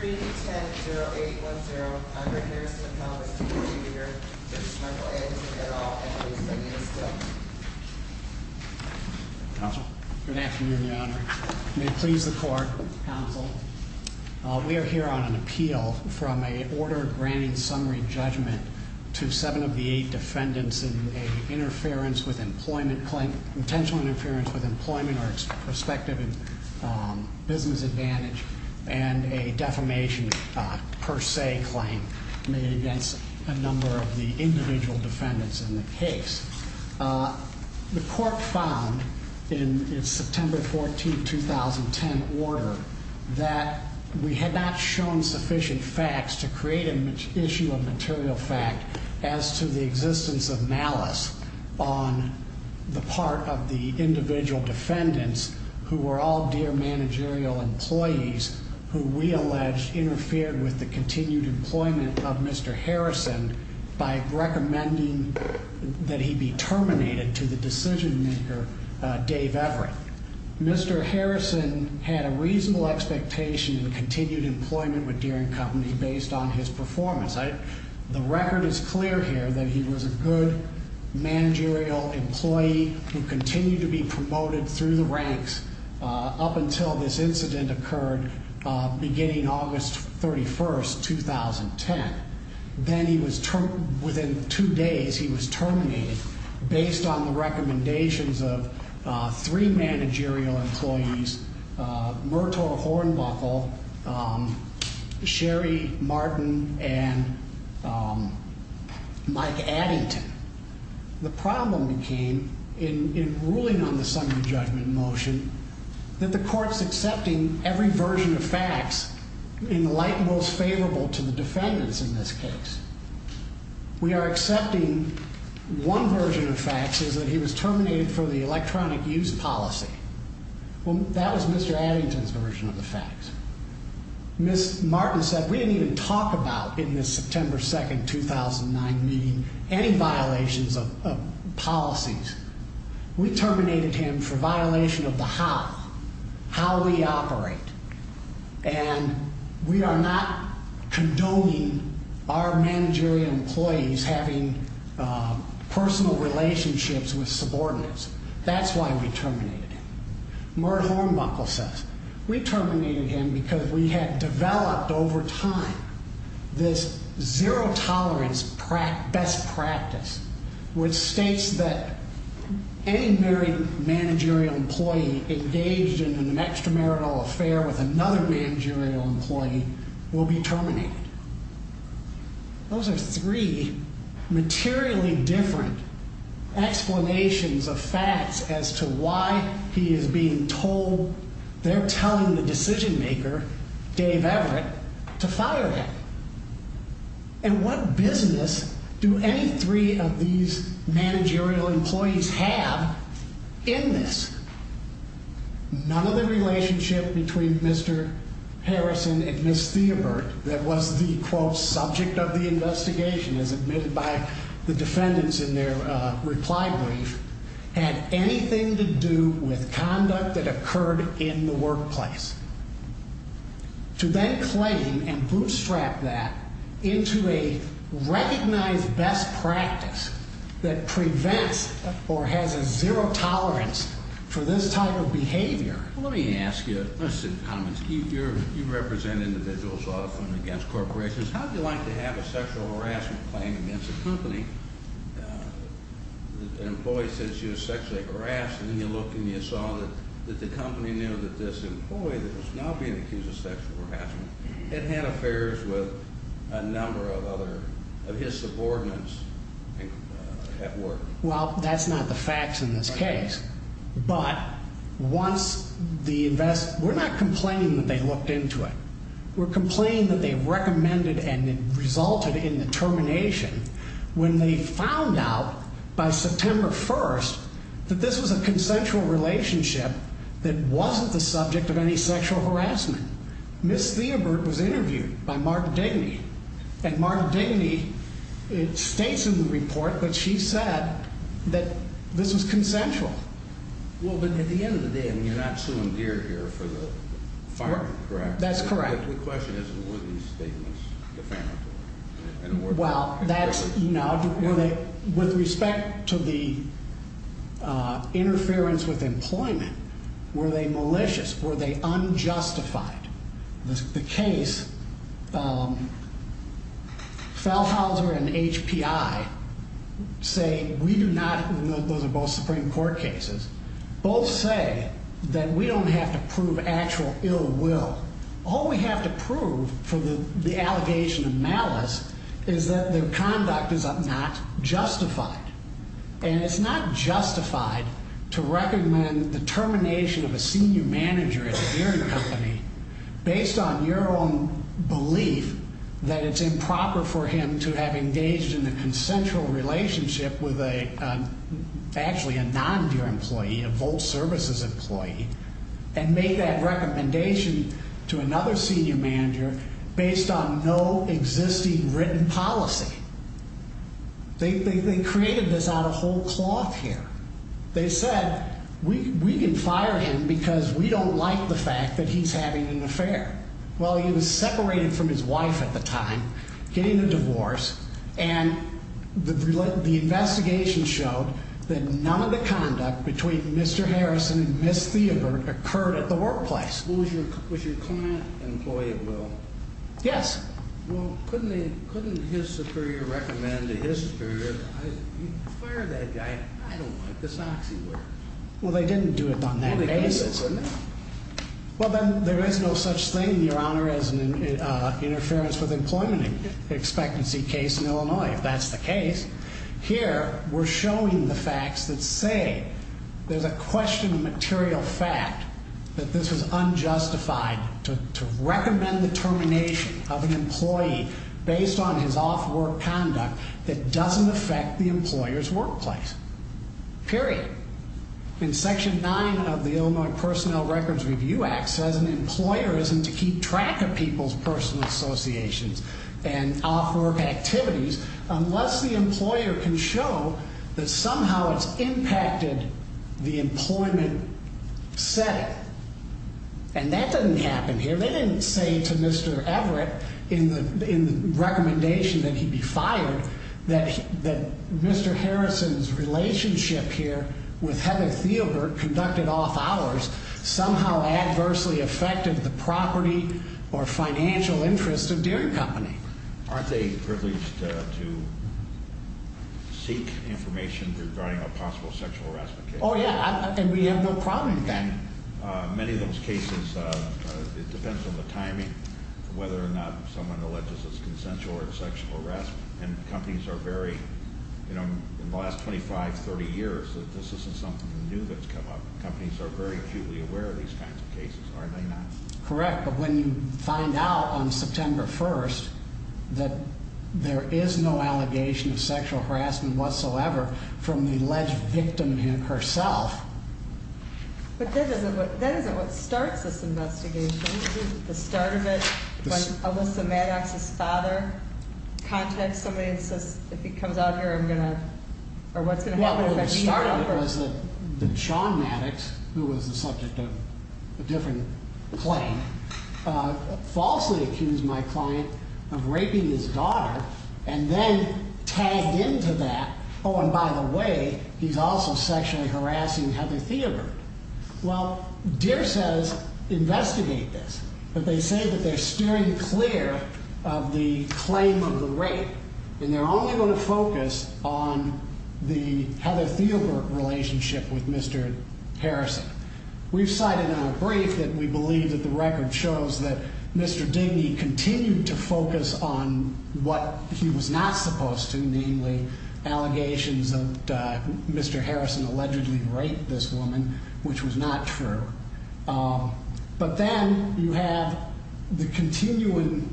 310810, Conrad Harrison of Congress reporting here. Judge Michael Addington, et al. and Louise Zaganis, still. Counsel. Good afternoon, Your Honor. May it please the Court. Counsel. We are here on an appeal from an order granting summary judgment to seven of the eight defendants in an interference with employment claim, intentional interference with employment or prospective business advantage, and a defamation per se claim made against a number of the individual defendants in the case. The Court found in its September 14, 2010, order that we had not shown sufficient facts to create an issue of material fact as to the existence of malice on the part of the individual defendants who were all dear managerial employees who we allege interfered with the continued employment of Mr. Harrison by recommending that he be fired. Mr. Harrison had a reasonable expectation in continued employment with Deering Company based on his performance. The record is clear here that he was a good managerial employee who continued to be promoted through the ranks up until this incident occurred beginning August 31, 2010. Then within two days, he was terminated based on the recommendations of three managerial employees, Myrtle Hornbuckle, Sherry Martin, and Mike Addington. The problem became in ruling on the summary judgment motion that the Court's accepting every version of facts in the light most favorable to the defendants in this case. We are accepting one version of facts is that he was terminated for the electronic use policy. Well, that was Mr. Addington's version of the facts. Ms. Martin said we didn't even talk about in this September 2, 2009 meeting any violations of policies. We terminated him for violation of the how, how we operate, and we are not condoning our managerial employees having personal relationships with subordinates. That's why we terminated him. Myrtle Hornbuckle says we terminated him because we had developed over time this zero tolerance best practice which states that any married managerial employee engaged in an extramarital affair with another managerial employee will be terminated. Those are three materially different explanations of facts as to why he is being told they're telling the decision maker, Dave Everett, to fire him. And what business do any three of these managerial employees have in this? None of the relationship between Mr. Harrison and Ms. Theabert that was the quote subject of the investigation as admitted by the defendants in their reply brief had anything to do with conduct that occurred in the workplace. To then claim and bootstrap that into a recognized best practice that prevents or has a zero tolerance for this type of behavior. Let me ask you, you represent individuals often against corporations. How would you like to have a sexual harassment claim against a company? An employee says she was sexually harassed and you look and you saw that the company knew that this employee that was now being accused of sexual harassment had had affairs with a number of his subordinates at work. Well, that's not the facts in this case, but once the invest, we're not complaining that they looked into it. We're complaining that they recommended and it resulted in the termination when they found out by September 1st that this was a consensual relationship that wasn't the subject of any sexual harassment. Ms. Theabert was interviewed by Mark Dainey and Mark Dainey. It states in the report that she said that this was consensual. Well, but at the end of the day, I mean, you're not suing gear here for the fire, correct? That's correct. Well, that's, you know, with respect to the interference with employment, were they malicious? Were they unjustified? The case, Falhauser and HPI say we do not, those are both Supreme Court cases, both say that we don't have to prove actual ill will. All we have to prove for the allegation of malice is that their conduct is not justified. And it's not justified to recommend the termination of a senior manager at a gearing company based on your own belief that it's improper for him to have engaged in a consensual relationship with a, actually a non-gearing employee, a Volt Services employee, and make that recommendation to another senior manager based on no existing written policy. They created this out of whole cloth here. They said we can fire him because we don't like the fact that he's having an affair. Well, he was separated from his wife at the time, getting a divorce, and the investigation showed that none of the conduct between Mr. Harrison and Ms. Theabert occurred at the workplace. Was your client an employee of Will? Yes. Well, couldn't they, couldn't his superior recommend to his superior, you fire that guy, I don't like the socks he wears. Well, they didn't do it on that basis. Well, then there is no such thing, Your Honor, as an interference with employment expectancy case in Illinois, if that's the case. Here, we're showing the facts that say there's a question of material fact that this was unjustified to recommend the termination of an employee based on his off-work conduct that doesn't affect the employer's workplace. Period. In Section 9 of the Illinois Personnel Records Review Act says an employer isn't to keep track of people's personal associations and off-work activities unless the employer can show that somehow it's impacted the employment setting. And that doesn't happen here. They didn't say to Mr. Everett in the recommendation that he be fired that Mr. Harrison's relationship here with Heather Theabert conducted off-hours somehow adversely affected the property or financial interest of Deere Company. Aren't they privileged to seek information regarding a possible sexual harassment case? Oh, yeah, and we have no problem with that. Many of those cases, it depends on the timing, whether or not someone alleges it's consensual or it's sexual harassment. And companies are very, you know, in the last 25, 30 years, this isn't something new that's come up. Companies are very acutely aware of these kinds of cases, are they not? Correct, but when you find out on September 1st that there is no allegation of sexual harassment whatsoever from the alleged victim herself. But that isn't what starts this investigation, is it? The start of it, like Alyssa Maddox's father contacts somebody and says, if he comes out here, I'm going to, or what's going to happen if I beat him? My daughter, Sean Maddox, who was the subject of a different claim, falsely accused my client of raping his daughter and then tagged into that, oh, and by the way, he's also sexually harassing Heather Theabert. Well, Deere says investigate this, but they say that they're steering clear of the claim of the rape and they're only going to focus on the Heather Theabert relationship with Mr. Harrison. We've cited in our brief that we believe that the record shows that Mr. Digny continued to focus on what he was not supposed to, namely allegations that Mr. Harrison allegedly raped this woman, which was not true. But then you have the continuing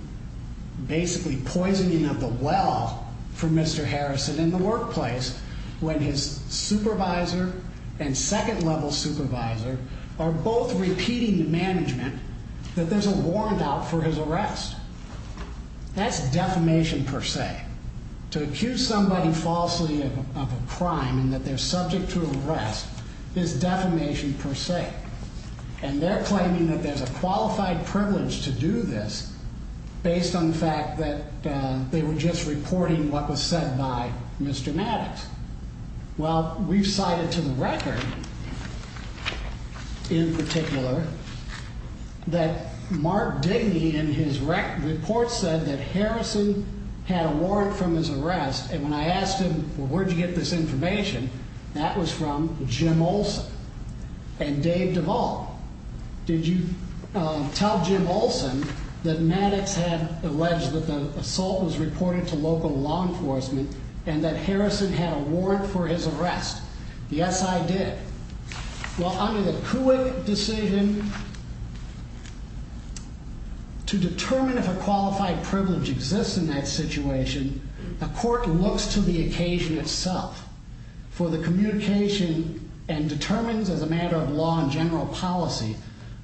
basically poisoning of the well for Mr. Harrison in the workplace when his supervisor and second level supervisor are both repeating to management that there's a warrant out for his arrest. That's defamation per se. To accuse somebody falsely of a crime and that they're subject to arrest is defamation per se. And they're claiming that there's a qualified privilege to do this based on the fact that they were just reporting what was said by Mr. Maddox. Well, we've cited to the record in particular that Mark Digny in his report said that Harrison had a warrant from his arrest. And when I asked him, where'd you get this information? That was from Jim Olson and Dave Duvall. Did you tell Jim Olson that Maddox had alleged that the assault was reported to local law enforcement and that Harrison had a warrant for his arrest? Yes, I did. Well, under the decision to determine if a qualified privilege exists in that situation, the court looks to the occasion itself for the communication and determines as a matter of law and general policy,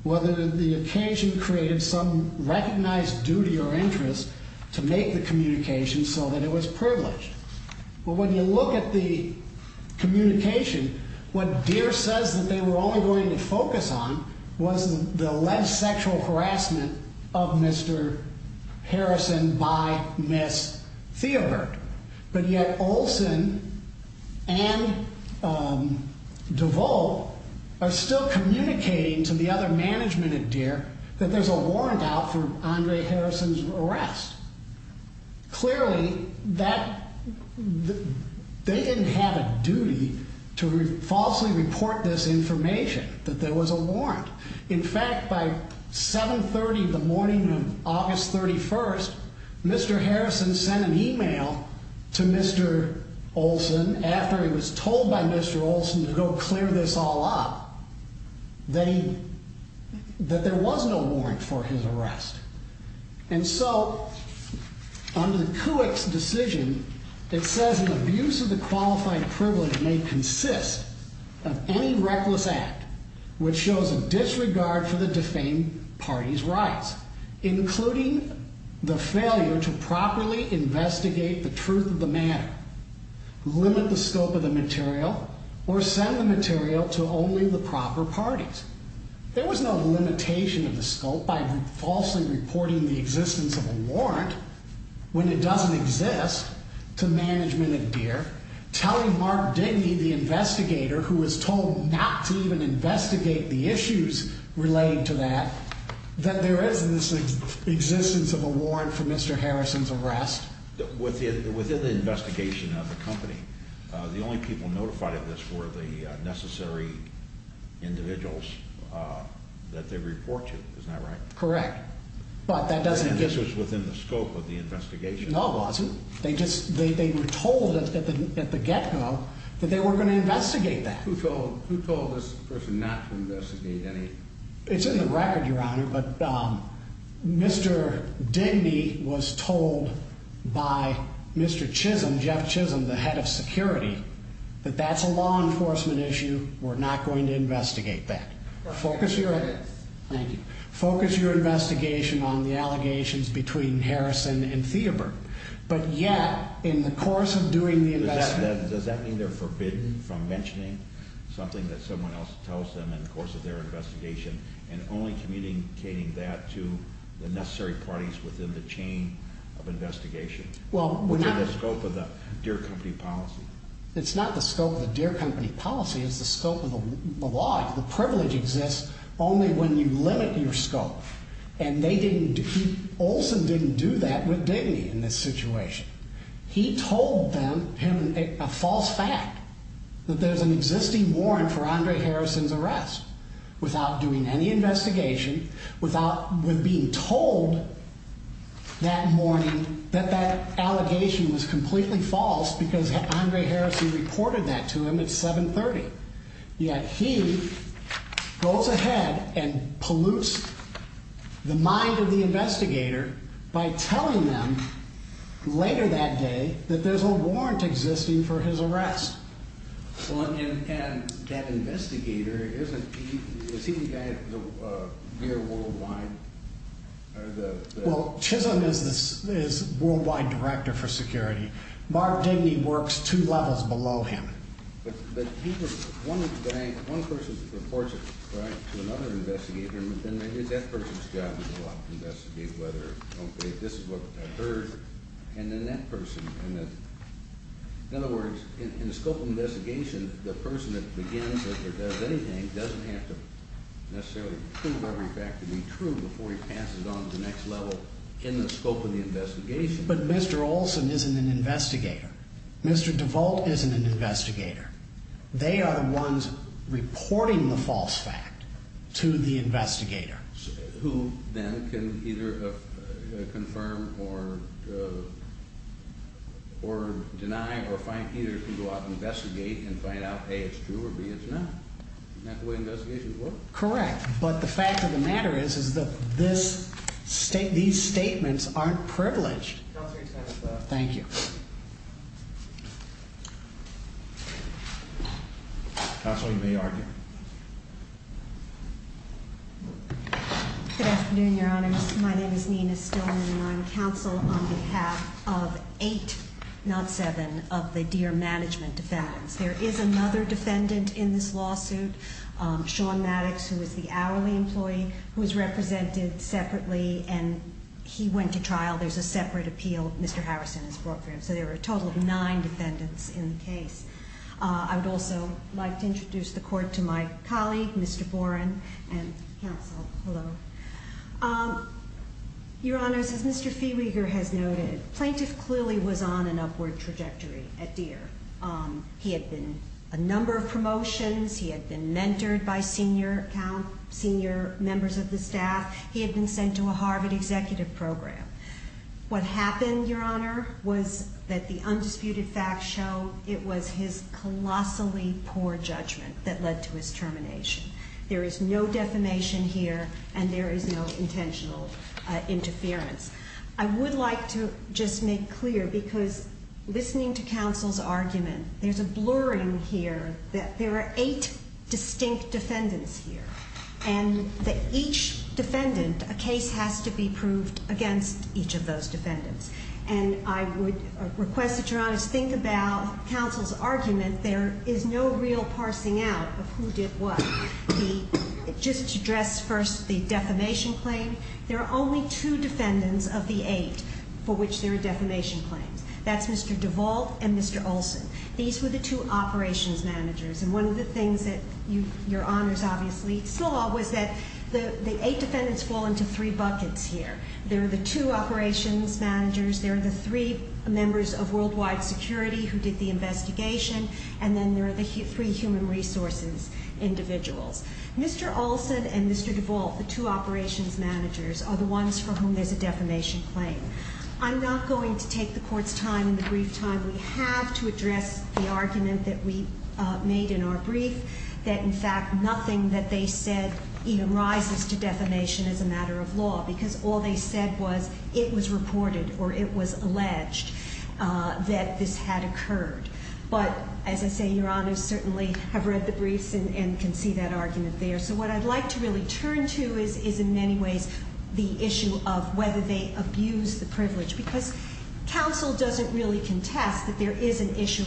whether the occasion created some recognized duty or interest to make the communication so that it was privileged. But when you look at the communication, what Deere says that they were only going to focus on was the alleged sexual harassment of Mr. Harrison by Ms. Theobert. But yet Olson and Duvall are still communicating to the other management at Deere that there's a warrant out for Andre Harrison's arrest. Clearly, they didn't have a duty to falsely report this information, that there was a warrant. In fact, by 7.30 in the morning of August 31st, Mr. Harrison sent an email to Mr. Olson after he was told by Mr. Olson to go clear this all up, that there was no warrant for his arrest. And so under the Kuwix decision, it says an abuse of the qualified privilege may consist of any reckless act which shows a disregard for the defamed party's rights, including the failure to properly investigate the truth of the matter, limit the scope of the material, or send the material to only the proper parties. There was no limitation of the scope by falsely reporting the existence of a warrant when it doesn't exist to management at Deere, telling Mark Digny, the investigator who was told not to even investigate the issues relating to that, that there is this existence of a warrant for Mr. Harrison's arrest. Within the investigation of the company, the only people notified of this were the necessary individuals that they report to, is that right? Correct. And this was within the scope of the investigation? No, it wasn't. They were told at the get-go that they were going to investigate that. Who told this person not to investigate anything? It's in the record, Your Honor, but Mr. Digny was told by Mr. Chisholm, Jeff Chisholm, the head of security, that that's a law enforcement issue, we're not going to investigate that. Thank you. Focus your investigation on the allegations between Harrison and Theabert. But yet, in the course of doing the investigation... ...and only communicating that to the necessary parties within the chain of investigation. Well, we're not... Within the scope of the Deere company policy. It's not the scope of the Deere company policy, it's the scope of the law. The privilege exists only when you limit your scope. And they didn't... Olson didn't do that with Digny in this situation. He told them a false fact, that there's an existing warrant for Andre Harrison's arrest. Without doing any investigation, without being told that morning that that allegation was completely false, because Andre Harrison reported that to him at 7.30. Yet he goes ahead and pollutes the mind of the investigator by telling them later that day that there's a warrant existing for his arrest. And that investigator isn't... Is he the guy at Deere Worldwide? Well, Chisholm is Worldwide Director for Security. Mark Digny works two levels below him. But he was... One person reports it to another investigator, and then it is that person's job to go out and investigate whether or not this is what occurred. And then that person... In other words, in the scope of the investigation, the person that begins or does anything doesn't have to necessarily prove every fact to be true before he passes on to the next level in the scope of the investigation. But Mr. Olson isn't an investigator. Mr. DeVolt isn't an investigator. They are the ones reporting the false fact to the investigator. Who then can either confirm or deny or find... Either can go out and investigate and find out, A, it's true, or B, it's not. Isn't that the way investigations work? Correct. But the fact of the matter is, is that these statements aren't privileged. Thank you. Counsel, you may argue. Good afternoon, Your Honor. My name is Nina Stillman, and I'm counsel on behalf of eight, not seven, of the Deere management defendants. There is another defendant in this lawsuit, Sean Maddox, who is the hourly employee, who is represented separately, and he went to trial. There's a separate appeal Mr. Harrison has brought for him. So there are a total of nine defendants in the case. I would also like to introduce the court to my colleague, Mr. Boren, and counsel. Hello. Your Honor, as Mr. Feeweeger has noted, plaintiff clearly was on an upward trajectory at Deere. He had been a number of promotions. He had been mentored by senior members of the staff. He had been sent to a Harvard executive program. What happened, Your Honor, was that the undisputed facts show it was his colossally poor judgment that led to his termination. There is no defamation here, and there is no intentional interference. I would like to just make clear, because listening to counsel's argument, there's a blurring here that there are eight distinct defendants here, and that each defendant, a case has to be proved against each of those defendants. And I would request that Your Honor think about counsel's argument. There is no real parsing out of who did what. Just to address first the defamation claim, there are only two defendants of the eight for which there are defamation claims. That's Mr. DeVault and Mr. Olson. These were the two operations managers, and one of the things that Your Honor's obviously saw was that the eight defendants fall into three buckets here. There are the two operations managers, there are the three members of worldwide security who did the investigation, and then there are the three human resources individuals. Mr. Olson and Mr. DeVault, the two operations managers, are the ones for whom there's a defamation claim. I'm not going to take the Court's time in the brief time we have to address the argument that we made in our brief, that in fact nothing that they said even rises to defamation as a matter of law, because all they said was it was reported or it was alleged that this had occurred. But as I say, Your Honor certainly have read the briefs and can see that argument there. So what I'd like to really turn to is in many ways the issue of whether they abuse the privilege, because counsel doesn't really contest that there is an issue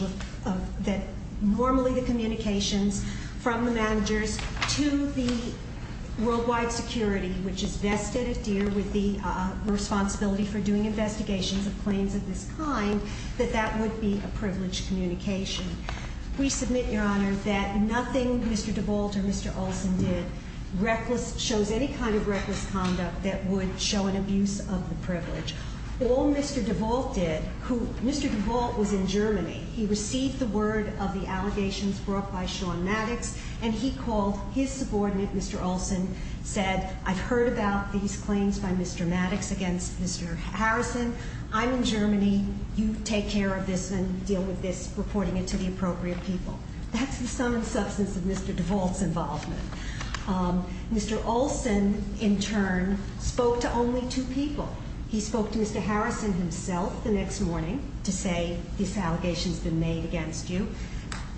that normally the communications from the managers to the worldwide security, which is vested dear with the responsibility for doing investigations of claims of this kind, that that would be a privileged communication. We submit, Your Honor, that nothing Mr. DeVault or Mr. Olson did shows any kind of reckless conduct that would show an abuse of the privilege. All Mr. DeVault did, who, Mr. DeVault was in Germany. He received the word of the allegations brought by Sean Maddox, and he called his subordinate, Mr. Olson, said, I've heard about these claims by Mr. Maddox against Mr. Harrison. I'm in Germany. You take care of this and deal with this, reporting it to the appropriate people. That's the sum and substance of Mr. DeVault's involvement. Mr. Olson, in turn, spoke to only two people. He spoke to Mr. Harrison himself the next morning to say, this allegation's been made against you.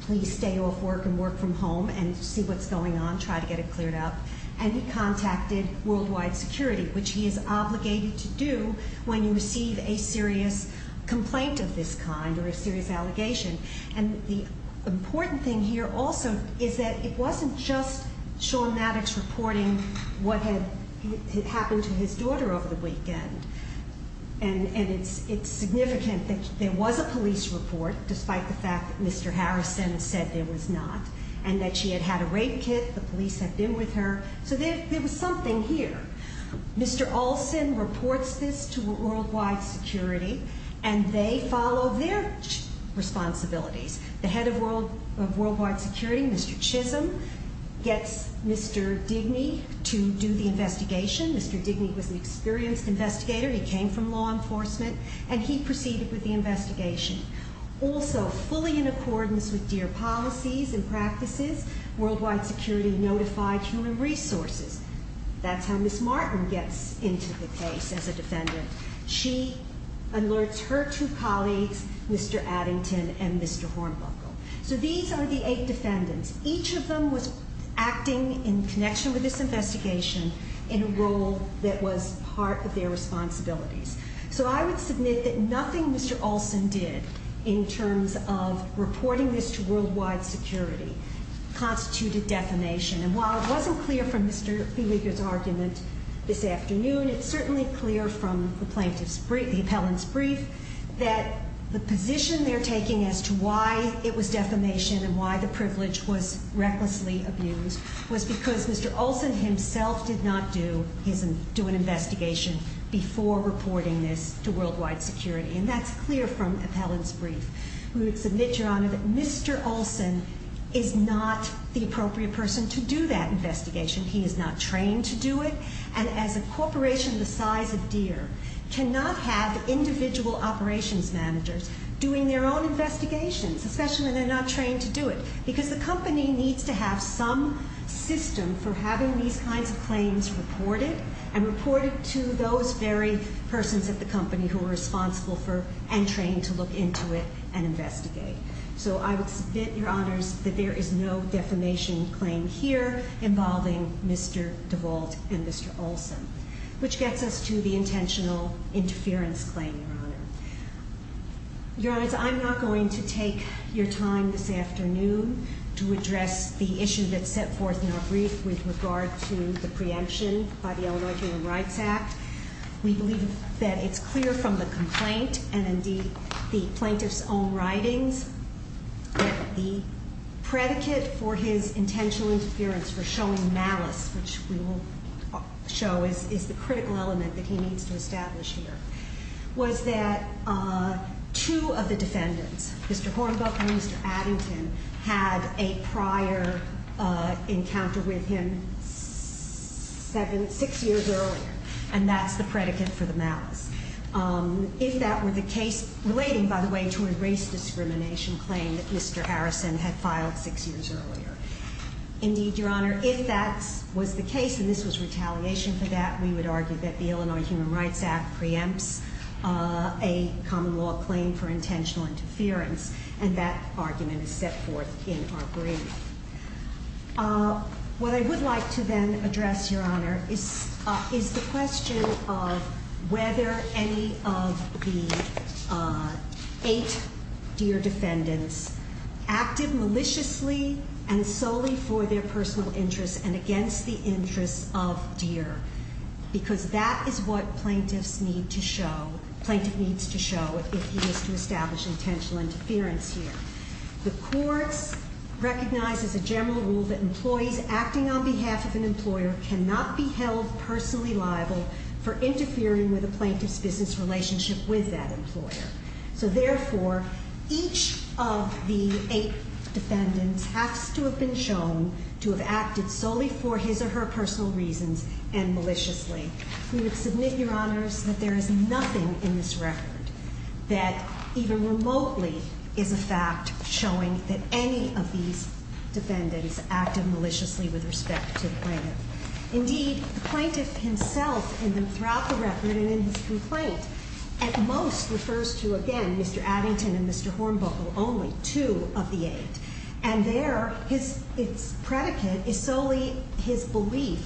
Please stay off work and work from home and see what's going on, try to get it cleared up. And he contacted worldwide security, which he is obligated to do when you receive a serious complaint of this kind or a serious allegation. And the important thing here also is that it wasn't just Sean Maddox reporting what had happened to his daughter over the weekend. And it's significant that there was a police report, despite the fact that Mr. Harrison said there was not. And that she had had a rape kit, the police had been with her. So there was something here. Mr. Olson reports this to worldwide security, and they follow their responsibilities. The head of worldwide security, Mr. Chisholm, gets Mr. Digny to do the investigation. Mr. Digny was an experienced investigator. He came from law enforcement, and he proceeded with the investigation. Also, fully in accordance with DEAR policies and practices, worldwide security notified human resources. That's how Ms. Martin gets into the case as a defendant. She alerts her two colleagues, Mr. Addington and Mr. Hornbuckle. So these are the eight defendants. Each of them was acting in connection with this investigation in a role that was part of their responsibilities. So I would submit that nothing Mr. Olson did in terms of reporting this to worldwide security constituted defamation. And while it wasn't clear from Mr. Beweger's argument this afternoon, it's certainly clear from the plaintiff's brief, the appellant's brief, that the position they're taking as to why it was defamation and why the privilege was recklessly abused was because Mr. Olson himself did not do an investigation before reporting this to worldwide security. And that's clear from the appellant's brief. We would submit, Your Honor, that Mr. Olson is not the appropriate person to do that investigation. He is not trained to do it. And as a corporation the size of DEAR cannot have individual operations managers doing their own investigations, especially when they're not trained to do it, because the company needs to have some system for having these kinds of claims reported and reported to those very persons at the company who are responsible for and trained to look into it and investigate. So I would submit, Your Honors, that there is no defamation claim here involving Mr. DeVault and Mr. Olson, which gets us to the intentional interference claim, Your Honor. Your Honors, I'm not going to take your time this afternoon to address the issue that's set forth in our brief with regard to the preemption by the Illinois Human Rights Act. We believe that it's clear from the complaint and indeed the plaintiff's own writings that the predicate for his intentional interference for showing malice, which we will show is the critical element that he needs to establish here, was that two of the defendants, Mr. Hornbuck and Mr. Addington, had a prior encounter with him six years earlier. And that's the predicate for the malice. If that were the case relating, by the way, to a race discrimination claim that Mr. Harrison had filed six years earlier. Indeed, Your Honor, if that was the case and this was retaliation for that, we would argue that the Illinois Human Rights Act preempts a common law claim for intentional interference. And that argument is set forth in our brief. What I would like to then address, Your Honor, is the question of whether any of the eight Deere defendants acted maliciously and solely for their personal interests and against the interests of Deere. Because that is what plaintiff needs to show if he is to establish intentional interference here. The courts recognize as a general rule that employees acting on behalf of an employer cannot be held personally liable for interfering with a plaintiff's business relationship with that employer. So therefore, each of the eight defendants has to have been shown to have acted solely for his or her personal reasons and maliciously. We would submit, Your Honors, that there is nothing in this record that even remotely is a fact showing that any of these defendants acted maliciously with respect to the plaintiff. Indeed, the plaintiff himself, throughout the record and in his complaint, at most refers to, again, Mr. Addington and Mr. Hornbuckle only, two of the eight. And there, its predicate is solely his belief,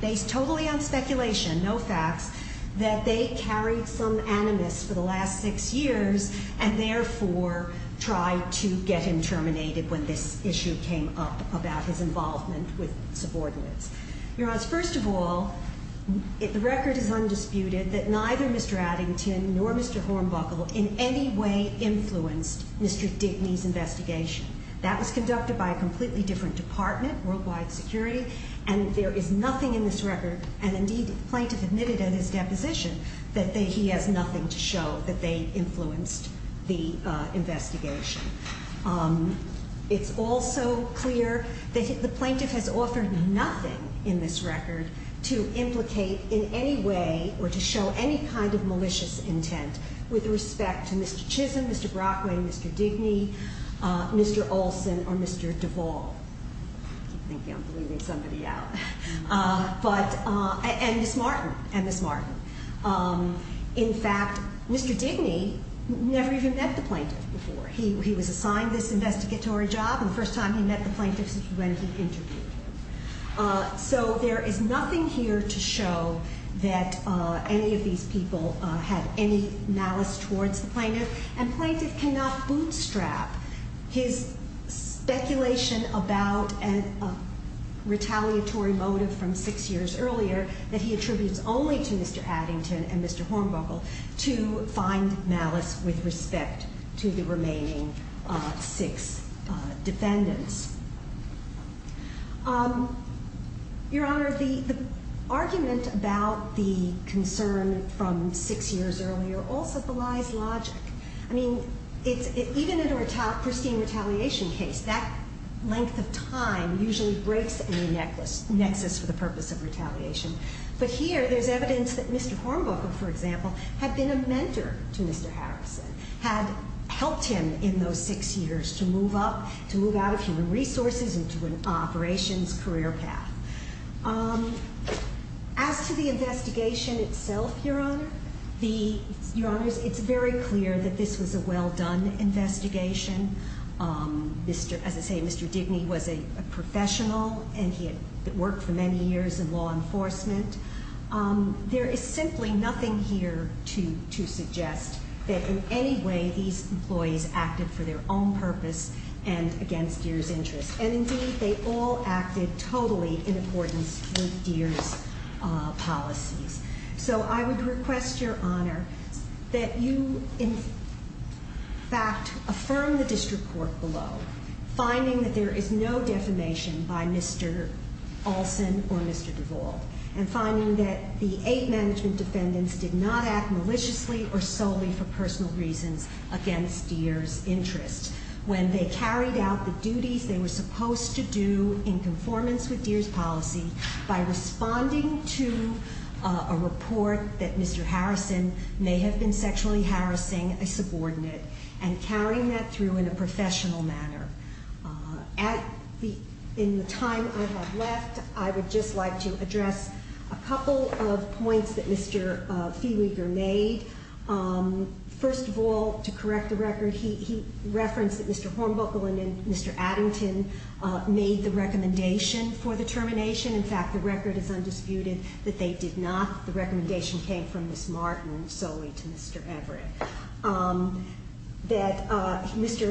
based totally on speculation, no facts, that they carried some animus for the last six years and therefore tried to get him terminated when this issue came up about his involvement with subordinates. Your Honors, first of all, the record is undisputed that neither Mr. Addington nor Mr. Hornbuckle in any way influenced Mr. Digney's investigation. That was conducted by a completely different department, Worldwide Security, and there is nothing in this record, and indeed the plaintiff admitted in his deposition, that he has nothing to show that they influenced the investigation. It's also clear that the plaintiff has offered nothing in this record to implicate in any way or to show any kind of malicious intent with respect to Mr. Chisholm, Mr. Brockway, Mr. Digney, Mr. Olson, or Mr. Duvall. I keep thinking I'm bleeding somebody out. And Ms. Martin, and Ms. Martin. In fact, Mr. Digney never even met the plaintiff before. He was assigned this investigatory job, and the first time he met the plaintiff was when he interviewed him. So there is nothing here to show that any of these people had any malice towards the plaintiff, and the plaintiff cannot bootstrap his speculation about a retaliatory motive from six years earlier that he attributes only to Mr. Addington and Mr. Hornbuckle to find malice with respect to the remaining six defendants. Your Honor, the argument about the concern from six years earlier also belies logic. I mean, even in a pristine retaliation case, that length of time usually breaks any nexus for the purpose of retaliation. But here, there's evidence that Mr. Hornbuckle, for example, had been a mentor to Mr. Harrison, had helped him in those six years to move up, to move out of human resources into an operations career path. As to the investigation itself, Your Honor, it's very clear that this was a well-done investigation. As I say, Mr. Digney was a professional, and he had worked for many years in law enforcement. There is simply nothing here to suggest that in any way these employees acted for their own purpose and against Deere's interests. And indeed, they all acted totally in accordance with Deere's policies. So I would request, Your Honor, that you, in fact, affirm the district court below, finding that there is no defamation by Mr. Olson or Mr. Duval, and finding that the eight management defendants did not act maliciously or solely for personal reasons against Deere's interests. When they carried out the duties they were supposed to do in conformance with Deere's policy by responding to a report that Mr. Harrison may have been sexually harassing a subordinate and carrying that through in a professional manner. In the time I have left, I would just like to address a couple of points that Mr. Feweger made. First of all, to correct the record, he referenced that Mr. Hornbuckle and Mr. Addington made the recommendation for the termination. In fact, the record is undisputed that they did not. The recommendation came from Ms. Martin solely to Mr. Everett. Mr.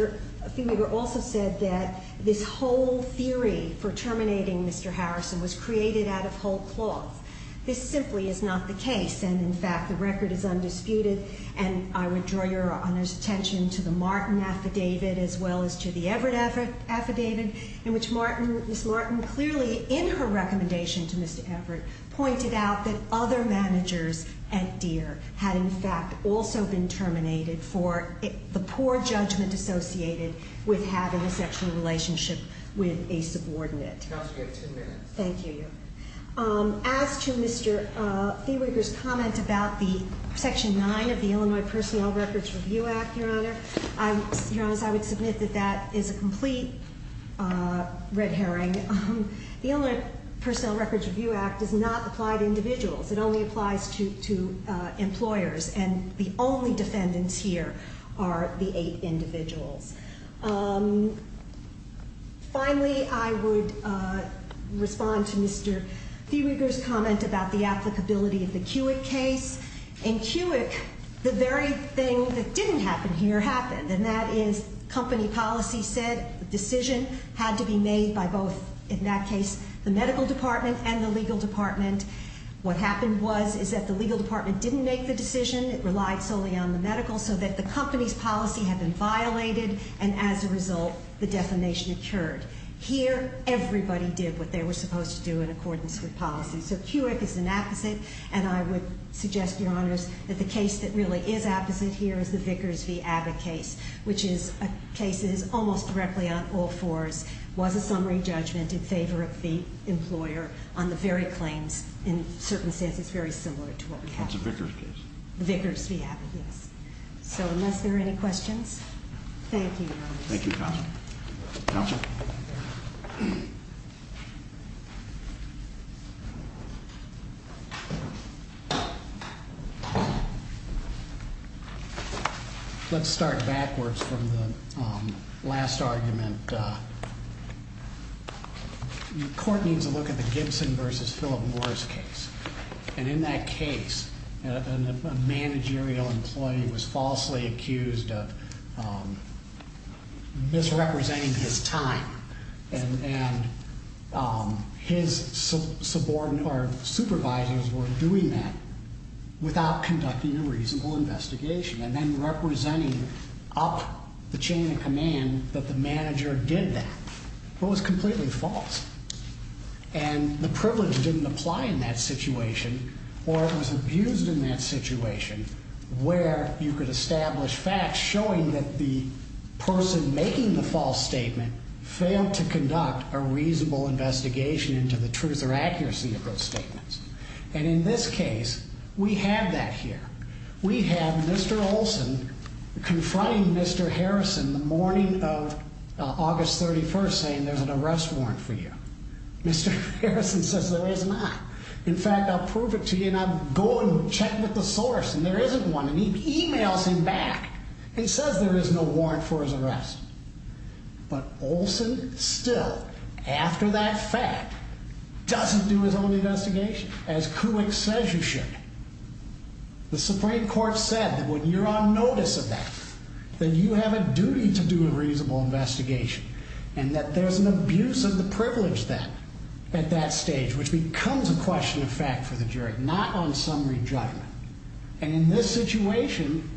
Feweger also said that this whole theory for terminating Mr. Harrison was created out of whole cloth. This simply is not the case, and in fact, the record is undisputed. And I would draw Your Honor's attention to the Martin affidavit as well as to the Everett affidavit, in which Ms. Martin clearly in her recommendation to Mr. Everett pointed out that other managers at Deere had in fact also been terminated for the poor judgment associated with having a sexual relationship with a subordinate. Counsel, you have two minutes. Thank you. As to Mr. Feweger's comment about the Section 9 of the Illinois Personnel Records Review Act, Your Honor, I would submit that that is a complete red herring. The Illinois Personnel Records Review Act does not apply to individuals. It only applies to employers, and the only defendants here are the eight individuals. Finally, I would respond to Mr. Feweger's comment about the applicability of the Cuick case. In Cuick, the very thing that didn't happen here happened, and that is company policy said the decision had to be made by both, in that case, the medical department and the legal department. What happened was is that the legal department didn't make the decision. It relied solely on the medical so that the company's policy had been violated, and as a result, the defamation occurred. Here, everybody did what they were supposed to do in accordance with policy. So Cuick is an opposite, and I would suggest, Your Honors, that the case that really is opposite here is the Vickers v. Abbott case, which is a case that is almost directly on all fours, was a summary judgment in favor of the employer on the very claims, in certain senses, very similar to what we have here. That's a Vickers case. Vickers v. Abbott, yes. So unless there are any questions, thank you, Your Honors. Thank you, Counsel. Counsel. Let's start backwards from the last argument. The court needs to look at the Gibson v. Philip Morris case, and in that case, a managerial employee was falsely accused of misrepresenting his time, and his supervisors were doing that without conducting a reasonable investigation and then representing up the chain of command that the manager did that. It was completely false, and the privilege didn't apply in that situation, or it was abused in that situation where you could establish facts showing that the person making the false statement failed to conduct a reasonable investigation into the truth or accuracy of those statements. And in this case, we have that here. We have Mr. Olson confronting Mr. Harrison the morning of August 31st saying there's an arrest warrant for you. Mr. Harrison says there is not. In fact, I'll prove it to you, and I'll go and check with the source, and there isn't one, and he emails him back and says there is no warrant for his arrest. But Olson still, after that fact, doesn't do his own investigation, as Kuwik says you should. The Supreme Court said that when you're on notice of that, that you have a duty to do a reasonable investigation, and that there's an abuse of the privilege then at that stage, which becomes a question of fact for the jury, not on summary judgment. And in this situation,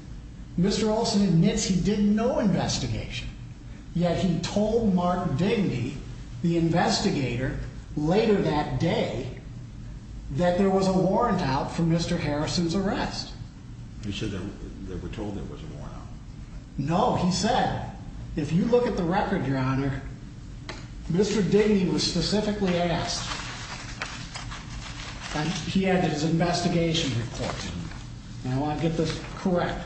Mr. Olson admits he did no investigation, yet he told Mark Digny, the investigator, later that day that there was a warrant out for Mr. Harrison's arrest. You said they were told there was a warrant out? No, he said, if you look at the record, Your Honor, Mr. Digny was specifically asked. He had his investigation report. Now, I want to get this correct.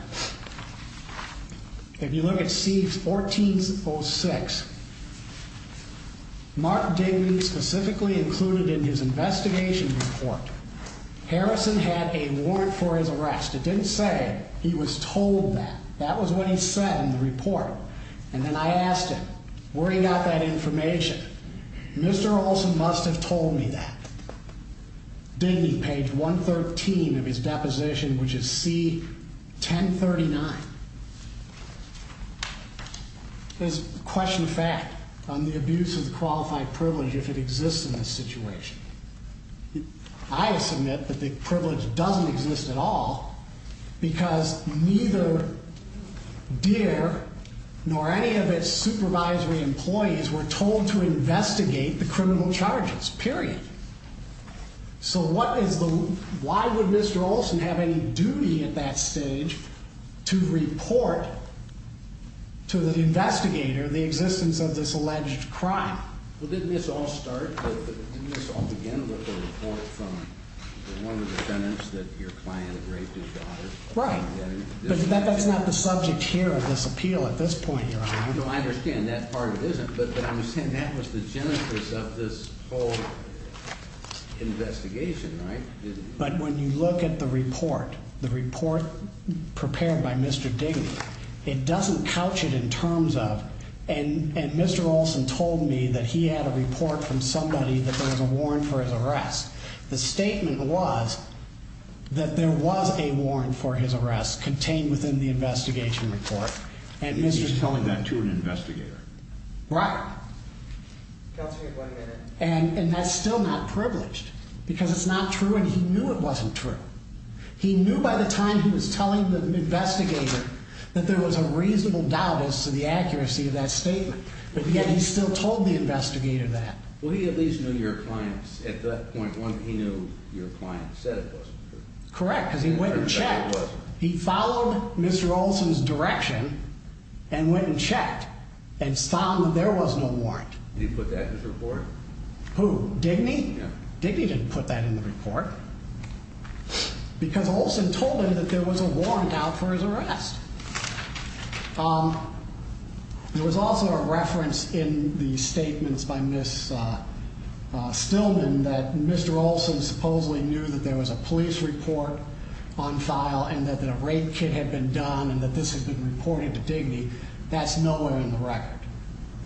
If you look at C1406, Mark Digny specifically included in his investigation report, Harrison had a warrant for his arrest. It didn't say he was told that. That was what he said in the report. And then I asked him where he got that information. Mr. Olson must have told me that. Digny, page 113 of his deposition, which is C1039, is a question of fact on the abuse of the qualified privilege if it exists in this situation. I submit that the privilege doesn't exist at all because neither Deere nor any of its supervisory employees were told to investigate the criminal charges, period. So why would Mr. Olson have any duty at that stage to report to the investigator the existence of this alleged crime? Well, didn't this all start, didn't this all begin with the report from one of the defendants that your client raped his daughter? Right. But that's not the subject here of this appeal at this point, Your Honor. No, I understand. That part it isn't. But I'm saying that was the genesis of this whole investigation, right? But when you look at the report, the report prepared by Mr. Digny, it doesn't couch it in terms of, and Mr. Olson told me that he had a report from somebody that there was a warrant for his arrest. The statement was that there was a warrant for his arrest contained within the investigation report, and Mr. Digny He was telling that to an investigator. Right. And that's still not privileged because it's not true, and he knew it wasn't true. He knew by the time he was telling the investigator that there was a reasonable doubt as to the accuracy of that statement, but yet he still told the investigator that. Well, he at least knew your client at that point. One, he knew your client said it wasn't true. Correct, because he went and checked. He followed Mr. Olson's direction and went and checked and found that there was no warrant. Did he put that in his report? Who, Digny? Yeah. Digny didn't put that in the report because Olson told him that there was a warrant out for his arrest. There was also a reference in the statements by Ms. Stillman that Mr. Olson supposedly knew that there was a police report on file and that a rape kit had been done and that this had been reported to Digny. That's nowhere in the record.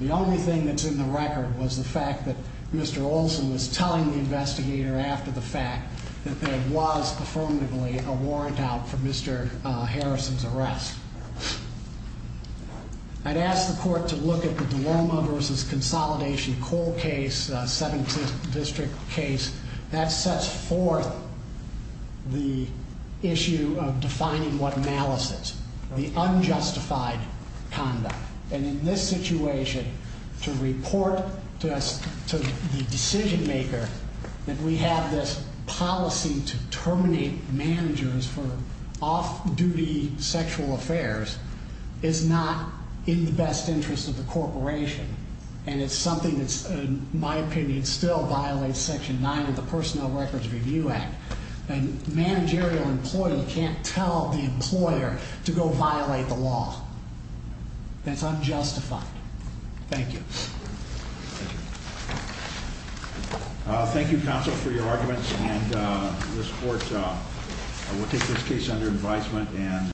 The only thing that's in the record was the fact that Mr. Olson was telling the investigator after the fact that there was affirmatively a warrant out for Mr. Harrison's arrest. I'd ask the court to look at the Duomo v. Consolidation Coal case, 17th District case. That sets forth the issue of defining what malice is, the unjustified conduct. In this situation, to report to the decision maker that we have this policy to terminate managers for off-duty sexual affairs is not in the best interest of the corporation. It's something that, in my opinion, still violates Section 9 of the Personnel Records Review Act. A managerial employee can't tell the employer to go violate the law. That's unjustified. Thank you. Thank you, counsel, for your arguments. This court will take this case under advisement.